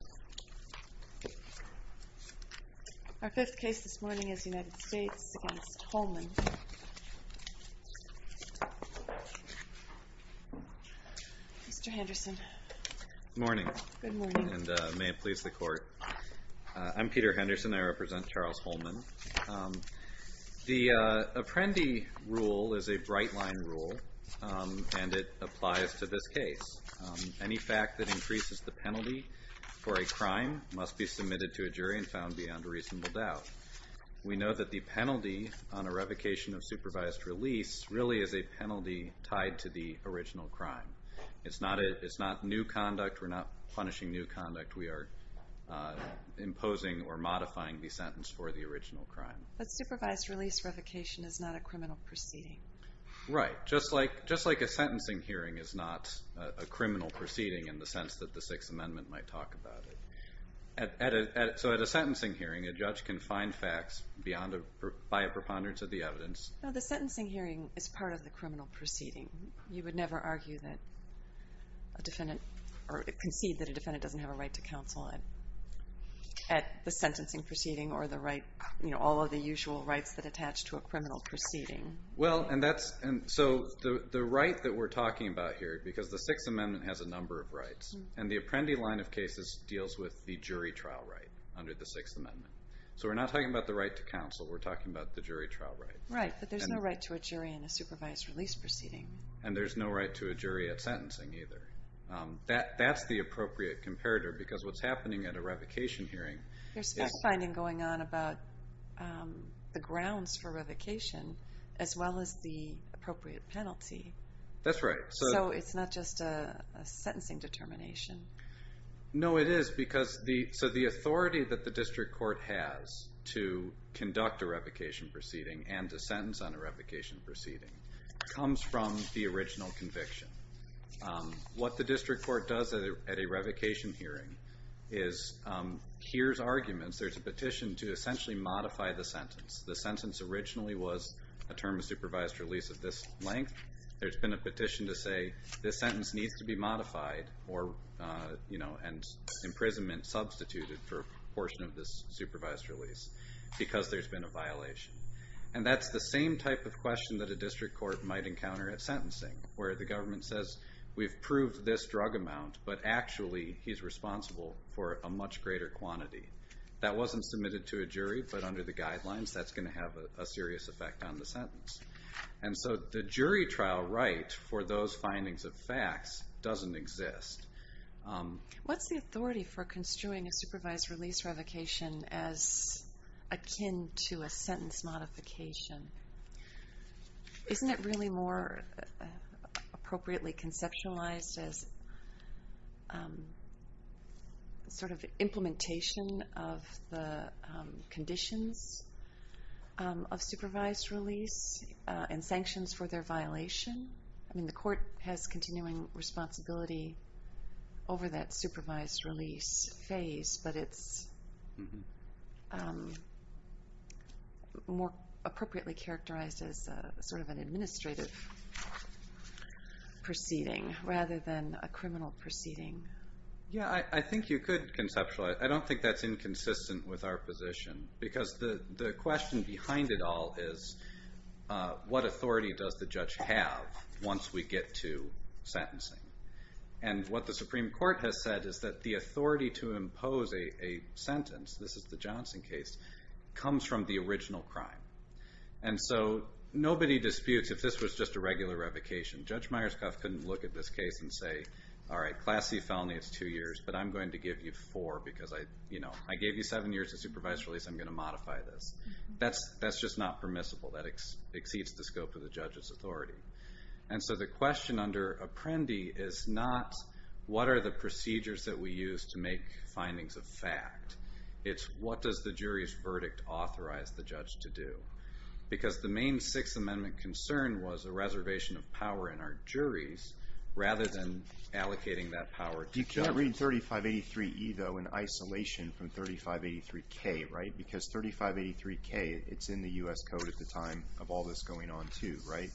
Good morning, and may it please the Court. I'm Peter Henderson. I represent Charles Hollman. The Apprendi rule is a bright-line rule, and it applies to this case. Any fact that increases the penalty for a crime must be submitted to a jury and found beyond reasonable doubt. We know that the penalty on a revocation of supervised release really is a penalty tied to the original crime. It's not new conduct. We're not punishing new conduct. We are imposing or modifying the sentence for the original crime. But supervised release revocation is not a criminal proceeding. Right. Just like a sentencing hearing is not a criminal proceeding in the sense that the Sixth Amendment might talk about it. So at a sentencing hearing, a judge can find facts by a preponderance of the evidence. No, the sentencing hearing is part of the criminal proceeding. You would never argue that a defendant or concede that a defendant doesn't have a right to counsel at the sentencing proceeding or the right, all of the usual rights that attach to a criminal proceeding. Well, and so the right that we're talking about here, because the Sixth Amendment has a number of rights, and the Apprendi line of cases deals with the jury trial right under the Sixth Amendment. So we're not talking about the right to counsel. We're talking about the jury trial right. Right, but there's no right to a jury in a supervised release proceeding. And there's no right to a jury at sentencing either. That's the appropriate comparator because what's happening at a revocation hearing is... There's fact-finding going on about the grounds for revocation as well as the appropriate penalty. That's right. So it's not just a sentencing determination. No, it is because the authority that the district court has to conduct a revocation proceeding and to sentence on a revocation proceeding comes from the original conviction. What the district court does at a revocation hearing is hears arguments. There's a petition to essentially modify the sentence. The sentence originally was a term of supervised release of this length. There's been a petition to say, this sentence needs to be modified and imprisonment substituted for a portion of this supervised release because there's been a violation. And that's the same type of question that a district court might encounter at sentencing where the government says, we've proved this drug amount, but actually he's responsible for a much greater quantity. That wasn't submitted to a jury, but under the guidelines that's And so the jury trial right for those findings of facts doesn't exist. What's the authority for construing a supervised release revocation as akin to a sentence modification? Isn't it really more appropriately conceptualized as sort of implementation of the conditions of supervised release and sanctions for their violation? I mean, the court has continuing responsibility over that supervised release phase, but it's more appropriately characterized as sort of an administrative proceeding rather than a criminal proceeding. Yeah, I think you could conceptualize. I don't think that's inconsistent with our position because the question behind it all is, what authority does the judge have once we get to sentencing? And what the Supreme Court has said is that the authority to impose a sentence, this is the Johnson case, comes from the original crime. And so nobody disputes if this was just a regular revocation. Judge Myerscough couldn't look at this case and say, all right, class C felony, it's two years, but I'm going to give you four because I gave you seven years of supervised release. I'm going to modify this. That's just not permissible. That exceeds the scope of the judge's authority. And so the question under Apprendi is not, what are the procedures that we use to make findings of fact? It's, what does the jury's verdict authorize the judge to do? Because the main Sixth Amendment concern was a reservation of power in our juries rather than allocating that power to judges. But you're not reading 3583E, though, in isolation from 3583K, right? Because 3583K, it's in the U.S. Code at the time of all this going on, too, right?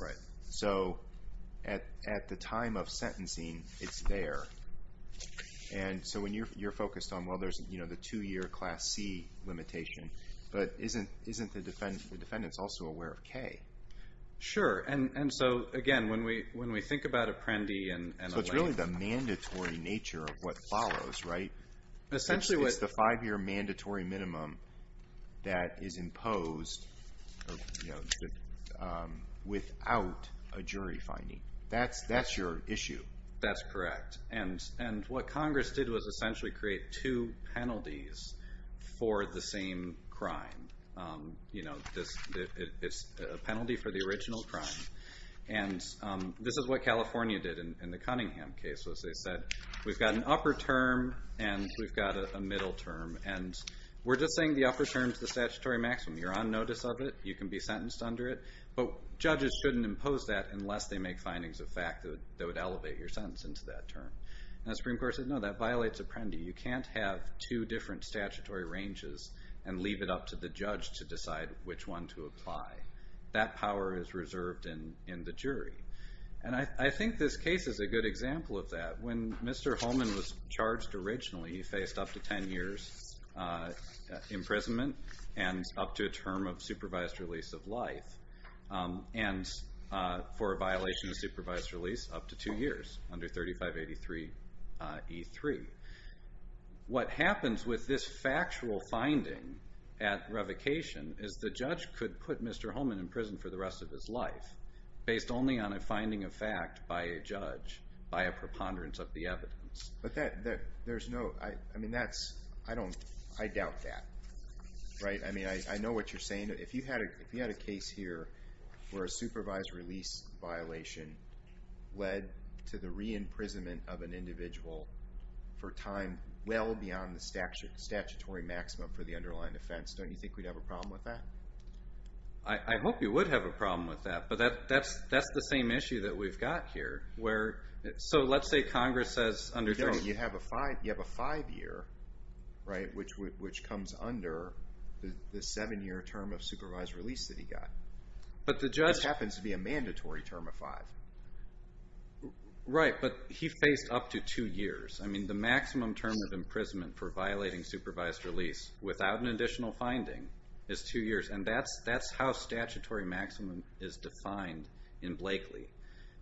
Right. So at the time of sentencing, it's there. And so when you're focused on, well, there's the two-year class C limitation, but isn't the defendant also aware of K? Sure. And so, again, when we think about Apprendi and a length of time... So it's really the mandatory nature of what follows, right? Essentially what... It's the five-year mandatory minimum that is imposed without a jury finding. That's your issue. That's correct. And what Congress did was essentially create two penalties for the same crime. It's a penalty for the original crime. And this is what California did in the Cunningham case, was they said, we've got an upper term and we've got a middle term. And we're just saying the upper term is the statutory maximum. You're on notice of it. You can be sentenced under it. But judges shouldn't impose that unless they make findings of fact that would elevate your sentence into that term. And the Supreme Court said, no, that violates Apprendi. You can't have two different statutory ranges and leave it up to the judge to decide which one to apply. That power is reserved in the jury. And I think this case is a good example of that. When Mr. Holman was charged originally, he faced up to 10 years imprisonment and up to a term of supervised release of life. And for a violation of supervised release, up to two years under 3583E3. What happens with this factual finding at revocation is the judge could put Mr. Holman in prison for the rest of his life based only on a finding of fact by a judge, by a preponderance of the evidence. But there's no, I mean, that's, I don't, I doubt that. Right? I mean, I know what you're a supervised release violation led to the re-imprisonment of an individual for time well beyond the statutory maximum for the underlying offense. Don't you think we'd have a problem with that? I hope you would have a problem with that. But that's the same issue that we've got here, where, so let's say Congress says under 3583E3. No, you have a five year, right, which comes under the seven year term of supervised release that he got. But the judge. This happens to be a mandatory term of five. Right, but he faced up to two years. I mean, the maximum term of imprisonment for violating supervised release without an additional finding is two years. And that's how statutory maximum is defined in Blakely.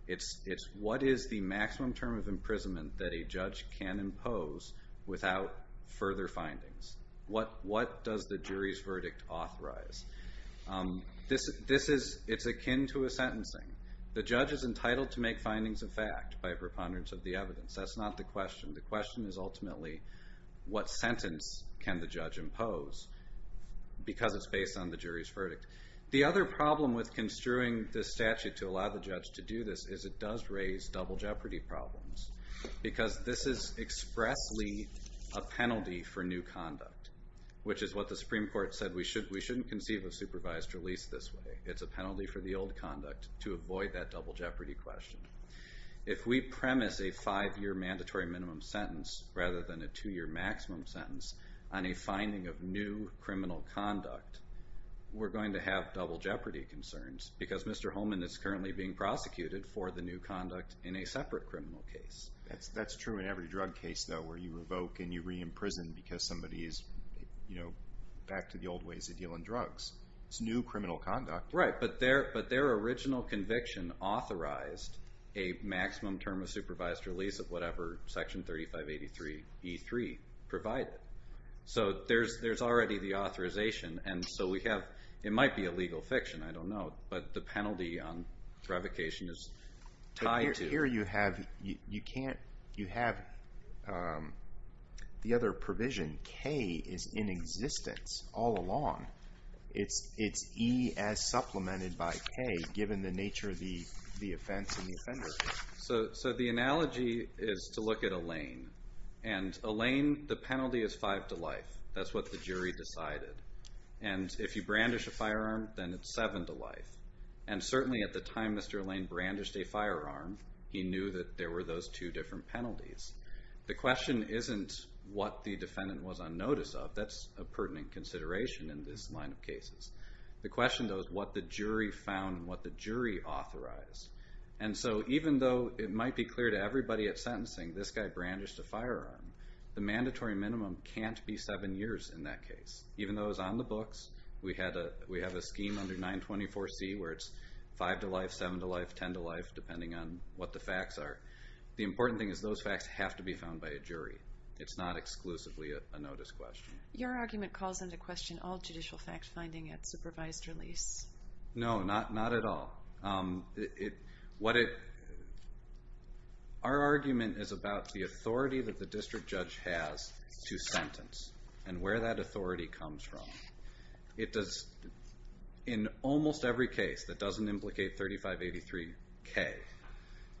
It's what is the maximum term of imprisonment that a judge can impose without further findings? What does the jury's This is akin to a sentencing. The judge is entitled to make findings of fact by preponderance of the evidence. That's not the question. The question is ultimately what sentence can the judge impose because it's based on the jury's verdict. The other problem with construing this statute to allow the judge to do this is it does raise double jeopardy problems because this is expressly a penalty for new conduct, which is what the Supreme Court said. We shouldn't conceive of supervised release this way. It's a penalty for the old conduct to avoid that double jeopardy question. If we premise a five year mandatory minimum sentence rather than a two year maximum sentence on a finding of new criminal conduct, we're going to have double jeopardy concerns because Mr. Holman is currently being prosecuted for the new conduct in a separate criminal case. That's true in every drug case, though, where you revoke and you re-imprison because somebody is back to the old ways of dealing drugs. It's new criminal conduct. Right, but their original conviction authorized a maximum term of supervised release of whatever section 3583 E3 provided. So there's already the authorization. And so we have it might be a legal fiction. I don't know. But the penalty on the other provision, K is in existence all along. It's E as supplemented by K, given the nature of the offense and the offender. So the analogy is to look at Elaine. And Elaine, the penalty is five to life. That's what the jury decided. And if you brandish a firearm, then it's seven to life. And certainly at the time Mr. Elaine brandished a firearm, he knew that there were those two different penalties. The question isn't what the defendant was on notice of. That's a pertinent consideration in this line of cases. The question, though, is what the jury found and what the jury authorized. And so even though it might be clear to everybody at sentencing, this guy brandished a firearm, the mandatory minimum can't be seven years in that case. Even though it was on the books, we have a scheme under 924C where it's five to life, the important thing is those facts have to be found by a jury. It's not exclusively a notice question. Your argument calls into question all judicial fact-finding at supervised release. No, not at all. Our argument is about the authority that the district judge has to sentence and where that authority comes from. In almost every case that doesn't implicate 3583K,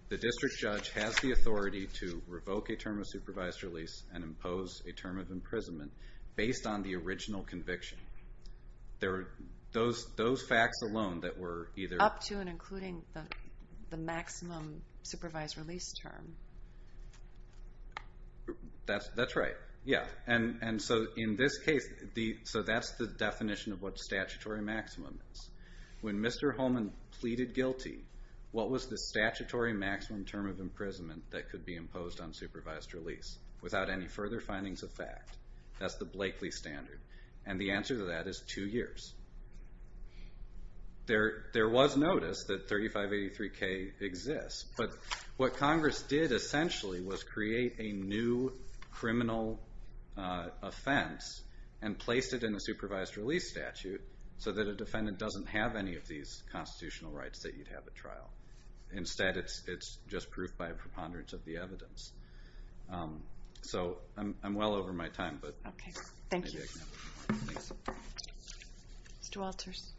the district judge has the authority to revoke a term of supervised release and impose a term of imprisonment based on the original conviction. Those facts alone that were either... Up to and including the maximum supervised release term. That's right. And so in this case, that's the definition of what statutory maximum is. When Mr. Holman pleaded guilty, what was the statutory maximum term of imprisonment that could be imposed on supervised release without any further findings of fact? That's the Blakeley standard, and the answer to that is two years. There was notice that 3583K exists, but what Congress did essentially was create a new criminal offense and placed it in the supervised release statute so that a defendant doesn't have any of these constitutional rights that you'd have at trial. Instead, it's just proof by a preponderance of the evidence. I'm well over my time, but maybe I can have one more. Mr. Walters.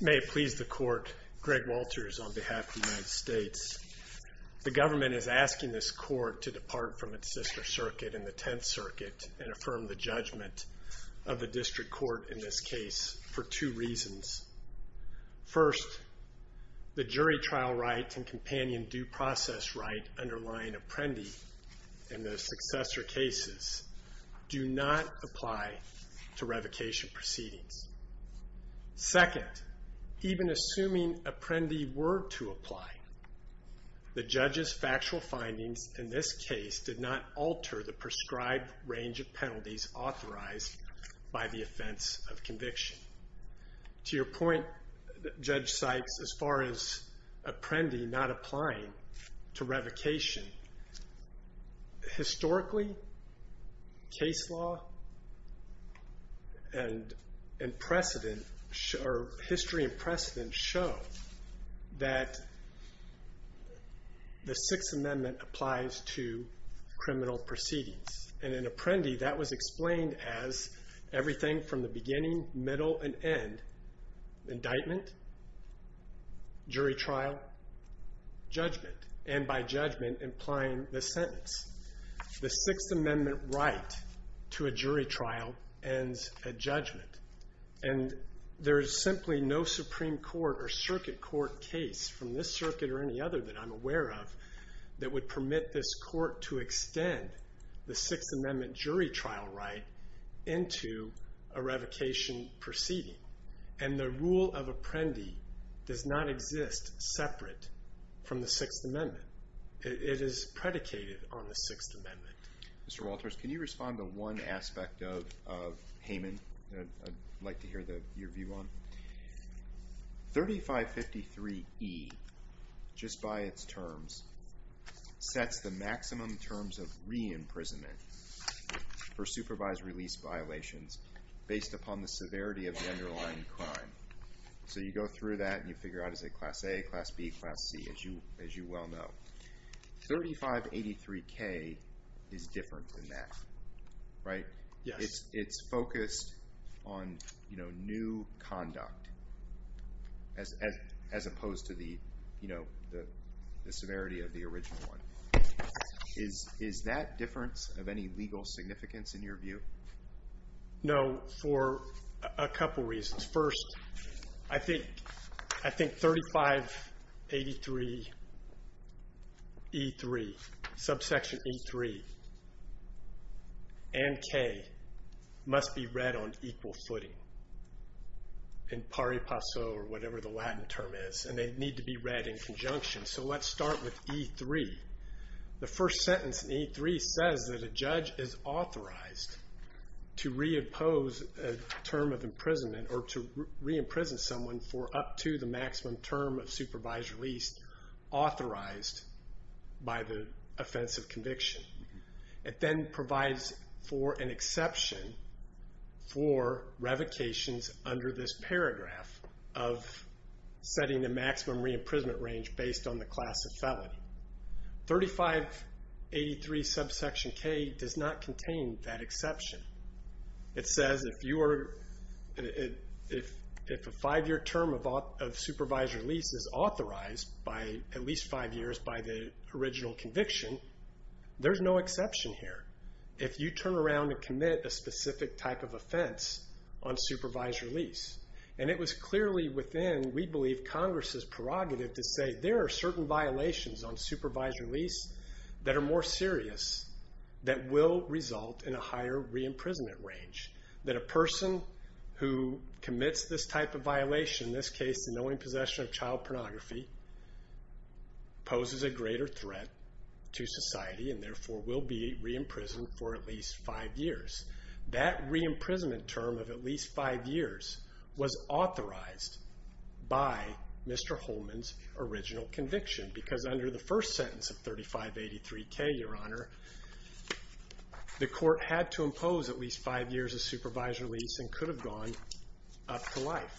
May it please the court. Greg Walters on behalf of the United States. The government is asking this court to depart from its sister circuit in the 10th Circuit and affirm the judgment of the district court in this case for two reasons. First, the jury trial right and companion due process right underlying Apprendi and the successor cases do not apply to revocation proceedings. Second, even assuming Apprendi were to apply, the judge's factual findings in this case did not alter the prescribed range of penalties authorized by the offense of conviction. To your point, Judge Sykes, as far as Apprendi not applying to revocation, historically, case law and history and precedent show that the Sixth Amendment applies to criminal proceedings. In Apprendi, that was explained as everything from the beginning, middle, and end. Indictment, jury trial, judgment, and by judgment, implying the sentence. The Sixth Amendment right to a jury trial ends at judgment. There is simply no Supreme Court or circuit court case from this circuit or any other that I'm aware of that would permit this court to extend the Sixth Amendment jury trial right into a revocation proceeding. And the rule of Apprendi does not exist separate from the Sixth Amendment. It is predicated on the Sixth Amendment. Mr. Walters, can you respond to one aspect of Hayman that I'd like to hear your view on? 3553E, just by its terms, sets the maximum terms of re-imprisonment for supervised release violations based upon the severity of the underlying crime. So you go through that and you figure out is it Class A, Class B, Class C, as you well know. 3583K is different than that, right? It's focused on new conduct as opposed to the severity of the original one. Is that difference of any legal significance in your view? No, for a couple reasons. First, I think 3583E3, subsection E3, and K must be read on equal footing. In pari passo or whatever the Latin term is. And they need to be read in conjunction. So let's start with E3. The first sentence in E3 says that a judge is authorized to re-impose a term of imprisonment or to re-imprison someone for up to the maximum term of supervised release authorized by the offense of conviction. It then provides for an exception for revocations under this paragraph of setting the maximum re-imprisonment range based on the class of felony. 3583 subsection K does not contain that exception. It says if a five-year term of supervised release is authorized by at least five years by the original conviction, there's no exception here. If you turn around and commit a specific type of offense on supervised release and it was clearly within, we believe, Congress's prerogative to say there are certain violations on supervised release that are more serious that will result in a higher re-imprisonment range. That a person who commits this type of violation, in this case, the knowing possession of child pornography, poses a greater threat to society and therefore will be re-imprisoned for at least five years. That re-imprisonment term of at least five years was authorized by Mr. Holman's original conviction because under the first sentence of 3583 K, Your Honor, the court had to impose at least five years of supervised release and could have gone up to life.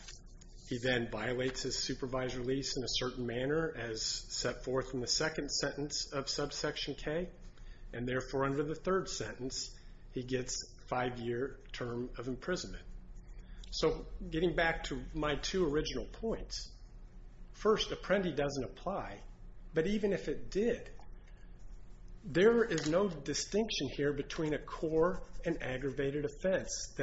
He then violates his supervised release in a certain manner as set forth in the second sentence of subsection K and therefore under the third sentence he gets five-year term of imprisonment. So getting back to my two original points, first, Apprendi doesn't apply, but even if it did, there is no distinction here between a core and aggravated offense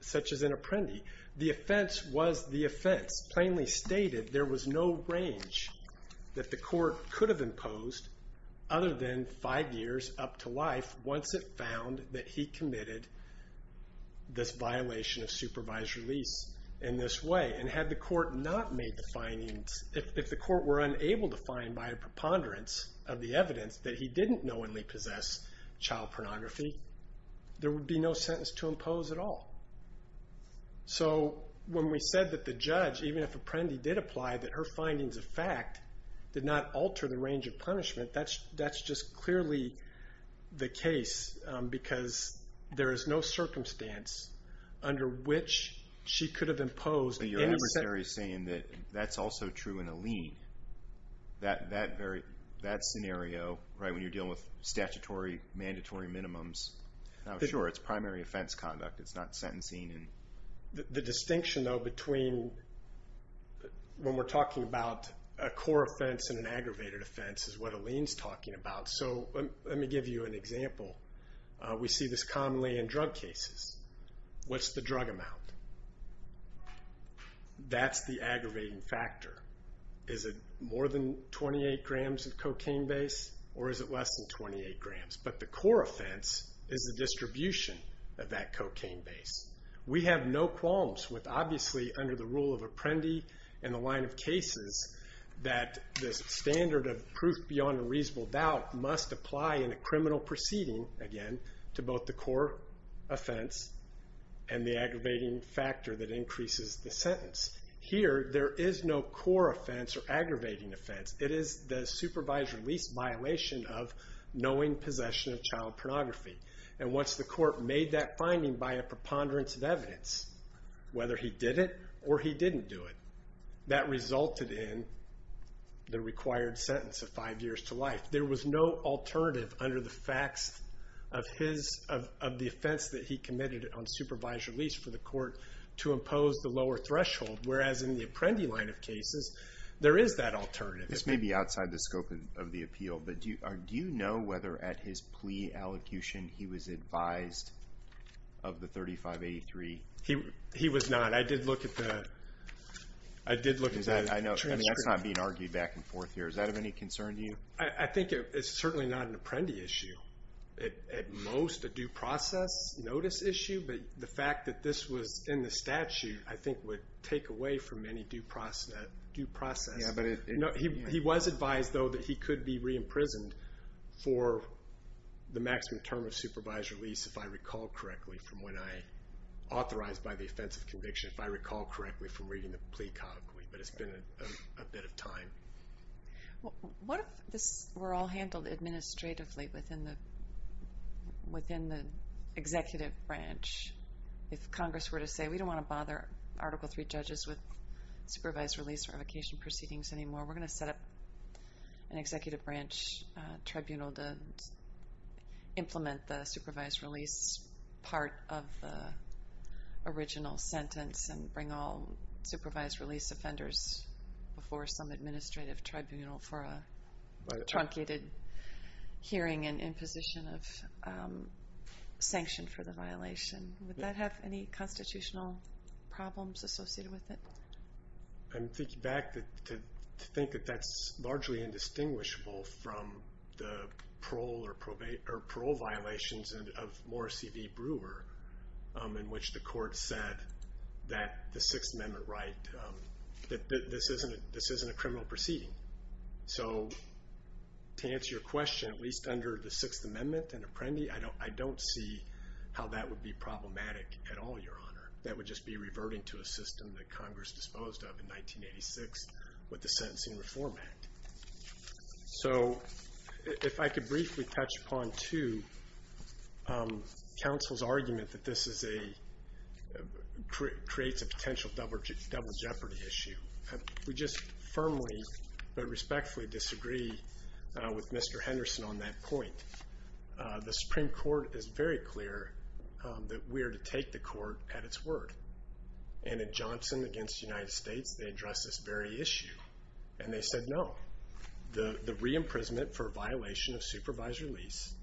such as in Apprendi. The offense was the offense. Plainly stated, there was no range that the court could have imposed other than five years up to life once it found that he committed this violation of supervised release in this way. And had the court not made the findings, if the court were unable to find by a preponderance of the evidence that he didn't knowingly possess child pornography, there would be no sentence to impose at all. So when we said that the judge, even if Apprendi did apply, that her findings of fact did not alter the range of punishment, that's just clearly the case because there is no circumstance under which she could have imposed any percentage. But you're necessarily saying that that's also true in a lien. That scenario, right, when you're dealing with statutory, mandatory minimums, I'm sure it's primary offense conduct. It's not sentencing. The distinction, though, between when we're talking about a core offense and an aggravated offense is what a lien's talking about. So let me give you an example. We see this commonly in drug cases. What's the drug amount? That's the aggravating factor. Is it more than 28 grams of cocaine base or is it less than 28 grams? But the core offense is the distribution of that cocaine base. We have no qualms with, obviously, under the rule of Apprendi and the line of cases, that this standard of proof beyond a reasonable doubt must apply in a criminal proceeding, again, to both the core offense and the aggravating factor that increases the sentence. Here, there is no core offense or aggravating offense. It is the supervised release violation of knowing possession of child pornography. Once the court made that finding by a preponderance of evidence, whether he did it or he didn't do it, that resulted in the required sentence of five years to life. There was no alternative under the facts of the offense that he committed on supervised release for the court to impose the lower threshold, whereas in the Apprendi line of cases, there is that alternative. This may be outside the scope of the appeal, but do you know whether at his plea allocution he was advised of the 3583? He was not. I did look at the transcript. That's not being argued back and forth here. Is that of any concern to you? I think it's certainly not an Apprendi issue. At most, a due process notice issue, but the fact that this was in the statute, I think, would take away from any due process. He was advised, though, that he could be re-imprisoned for the maximum term of supervised release, if I recall correctly, from when I authorized by the offense of conviction, if I recall correctly, from reading the plea colloquy, but it's been a bit of time. What if this were all handled administratively within the executive branch? If Congress were to say, we don't want to bother Article III judges with supervised release revocation proceedings anymore, we're going to set up an executive branch tribunal to implement the supervised release part of the original sentence and bring all supervised release offenders before some administrative tribunal for a truncated hearing and imposition of sanction for the violation. Would that have any constitutional problems associated with it? I'm thinking back to think that that's largely indistinguishable from the parole violations of Morris E.V. Brewer, in which the court said that the Sixth Amendment right, that this isn't a criminal proceeding. So to answer your question, at least under the Sixth Amendment and Apprendi, I don't see how that would be problematic at all, Your Honor. That would just be reverting to a system that Congress disposed of in 1986 with the Sentencing Reform Act. So if I could briefly touch upon, too, counsel's argument that this creates a potential double jeopardy issue. We just firmly but respectfully disagree with Mr. Henderson on that point. The Supreme Court is very clear that we are to take the court at its word. And at Johnson against the United States, they addressed this very issue, and they said no. The re-imprisonment for a violation of supervised release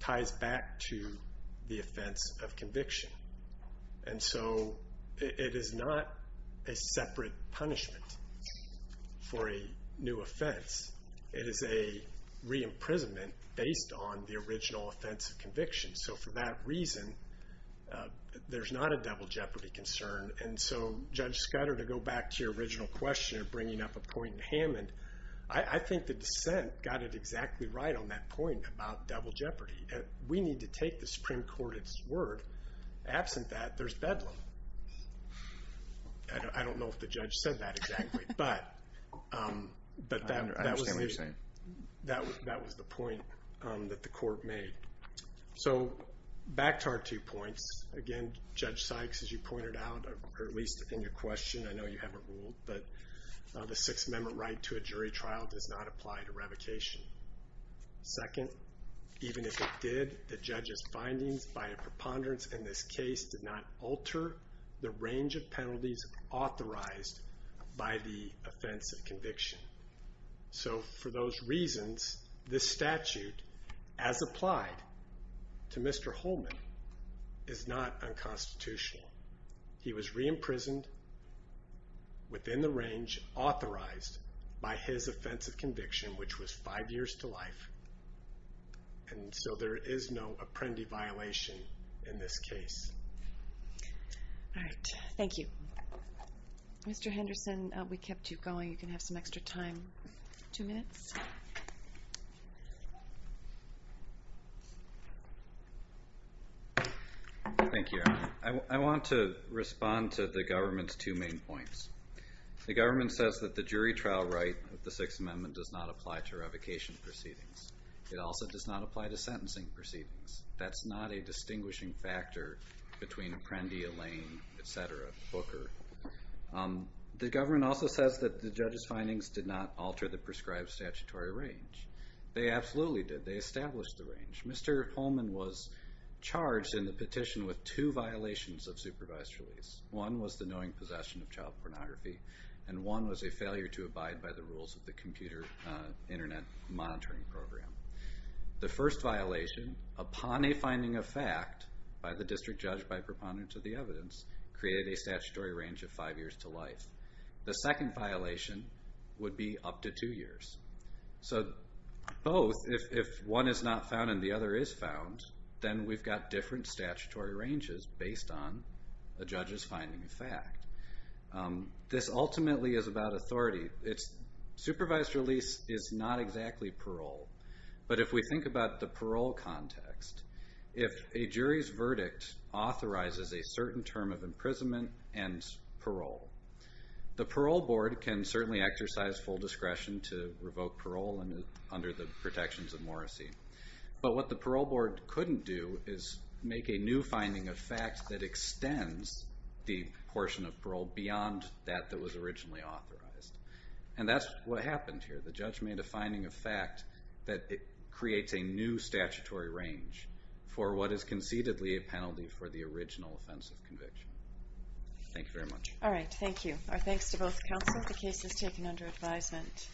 ties back to the offense of conviction. And so it is not a separate punishment for a new offense. It is a re-imprisonment based on the original offense of conviction. So for that reason, there's not a double jeopardy concern. And so, Judge Scudder, to go back to your original question of bringing up a point in Hammond, I think the dissent got it exactly right on that point about double jeopardy. We need to take the Supreme Court at its word. Absent that, there's bedlam. I don't know if the judge said that exactly, but that was the point that the court made. So back to our two points, again, Judge Sykes, as you pointed out, or at least in your question, I know you haven't ruled, but the Sixth Amendment right to a jury trial does not apply to revocation. Second, even if it did, the judge's findings by a preponderance in this case did not alter the range of penalties authorized by the offense of conviction. So for those reasons, this statute, as applied to Mr. Holman, is not unconstitutional. He was re-imprisoned within the range authorized by his offense of conviction, which was five years to life. And so there is no apprendee violation in this case. All right. Thank you. Mr. Henderson, we kept you going. You can have some extra time. Two minutes. Thank you. I want to respond to the government's two main points. The government says that the jury trial right of the Sixth Amendment does not apply to revocation proceedings. It also does not apply to sentencing proceedings. That's not a distinguishing factor between Apprendi, Elaine, et cetera, Booker. The government also says that the judge's findings did not alter the prescribed statutory range. They absolutely did. They established the range. Mr. Holman was charged in the petition with two violations of supervised release. One was the knowing possession of child pornography, and one was a failure to abide by the rules of the computer Internet monitoring program. The first violation, upon a finding of fact by the district judge by preponderance of the evidence, created a statutory range of five years to life. The second violation would be up to two years. So both, if one is not found and the other is found, this ultimately is about authority. Supervised release is not exactly parole. But if we think about the parole context, if a jury's verdict authorizes a certain term of imprisonment and parole, the parole board can certainly exercise full discretion to revoke parole under the protections of Morrisey. But what the parole board couldn't do is make a new finding of fact that extends the portion of parole beyond that that was originally authorized. And that's what happened here. The judge made a finding of fact that it creates a new statutory range for what is concededly a penalty for the original offensive conviction. Thank you very much. All right, thank you. Our thanks to both counsel. The case is taken under advisement.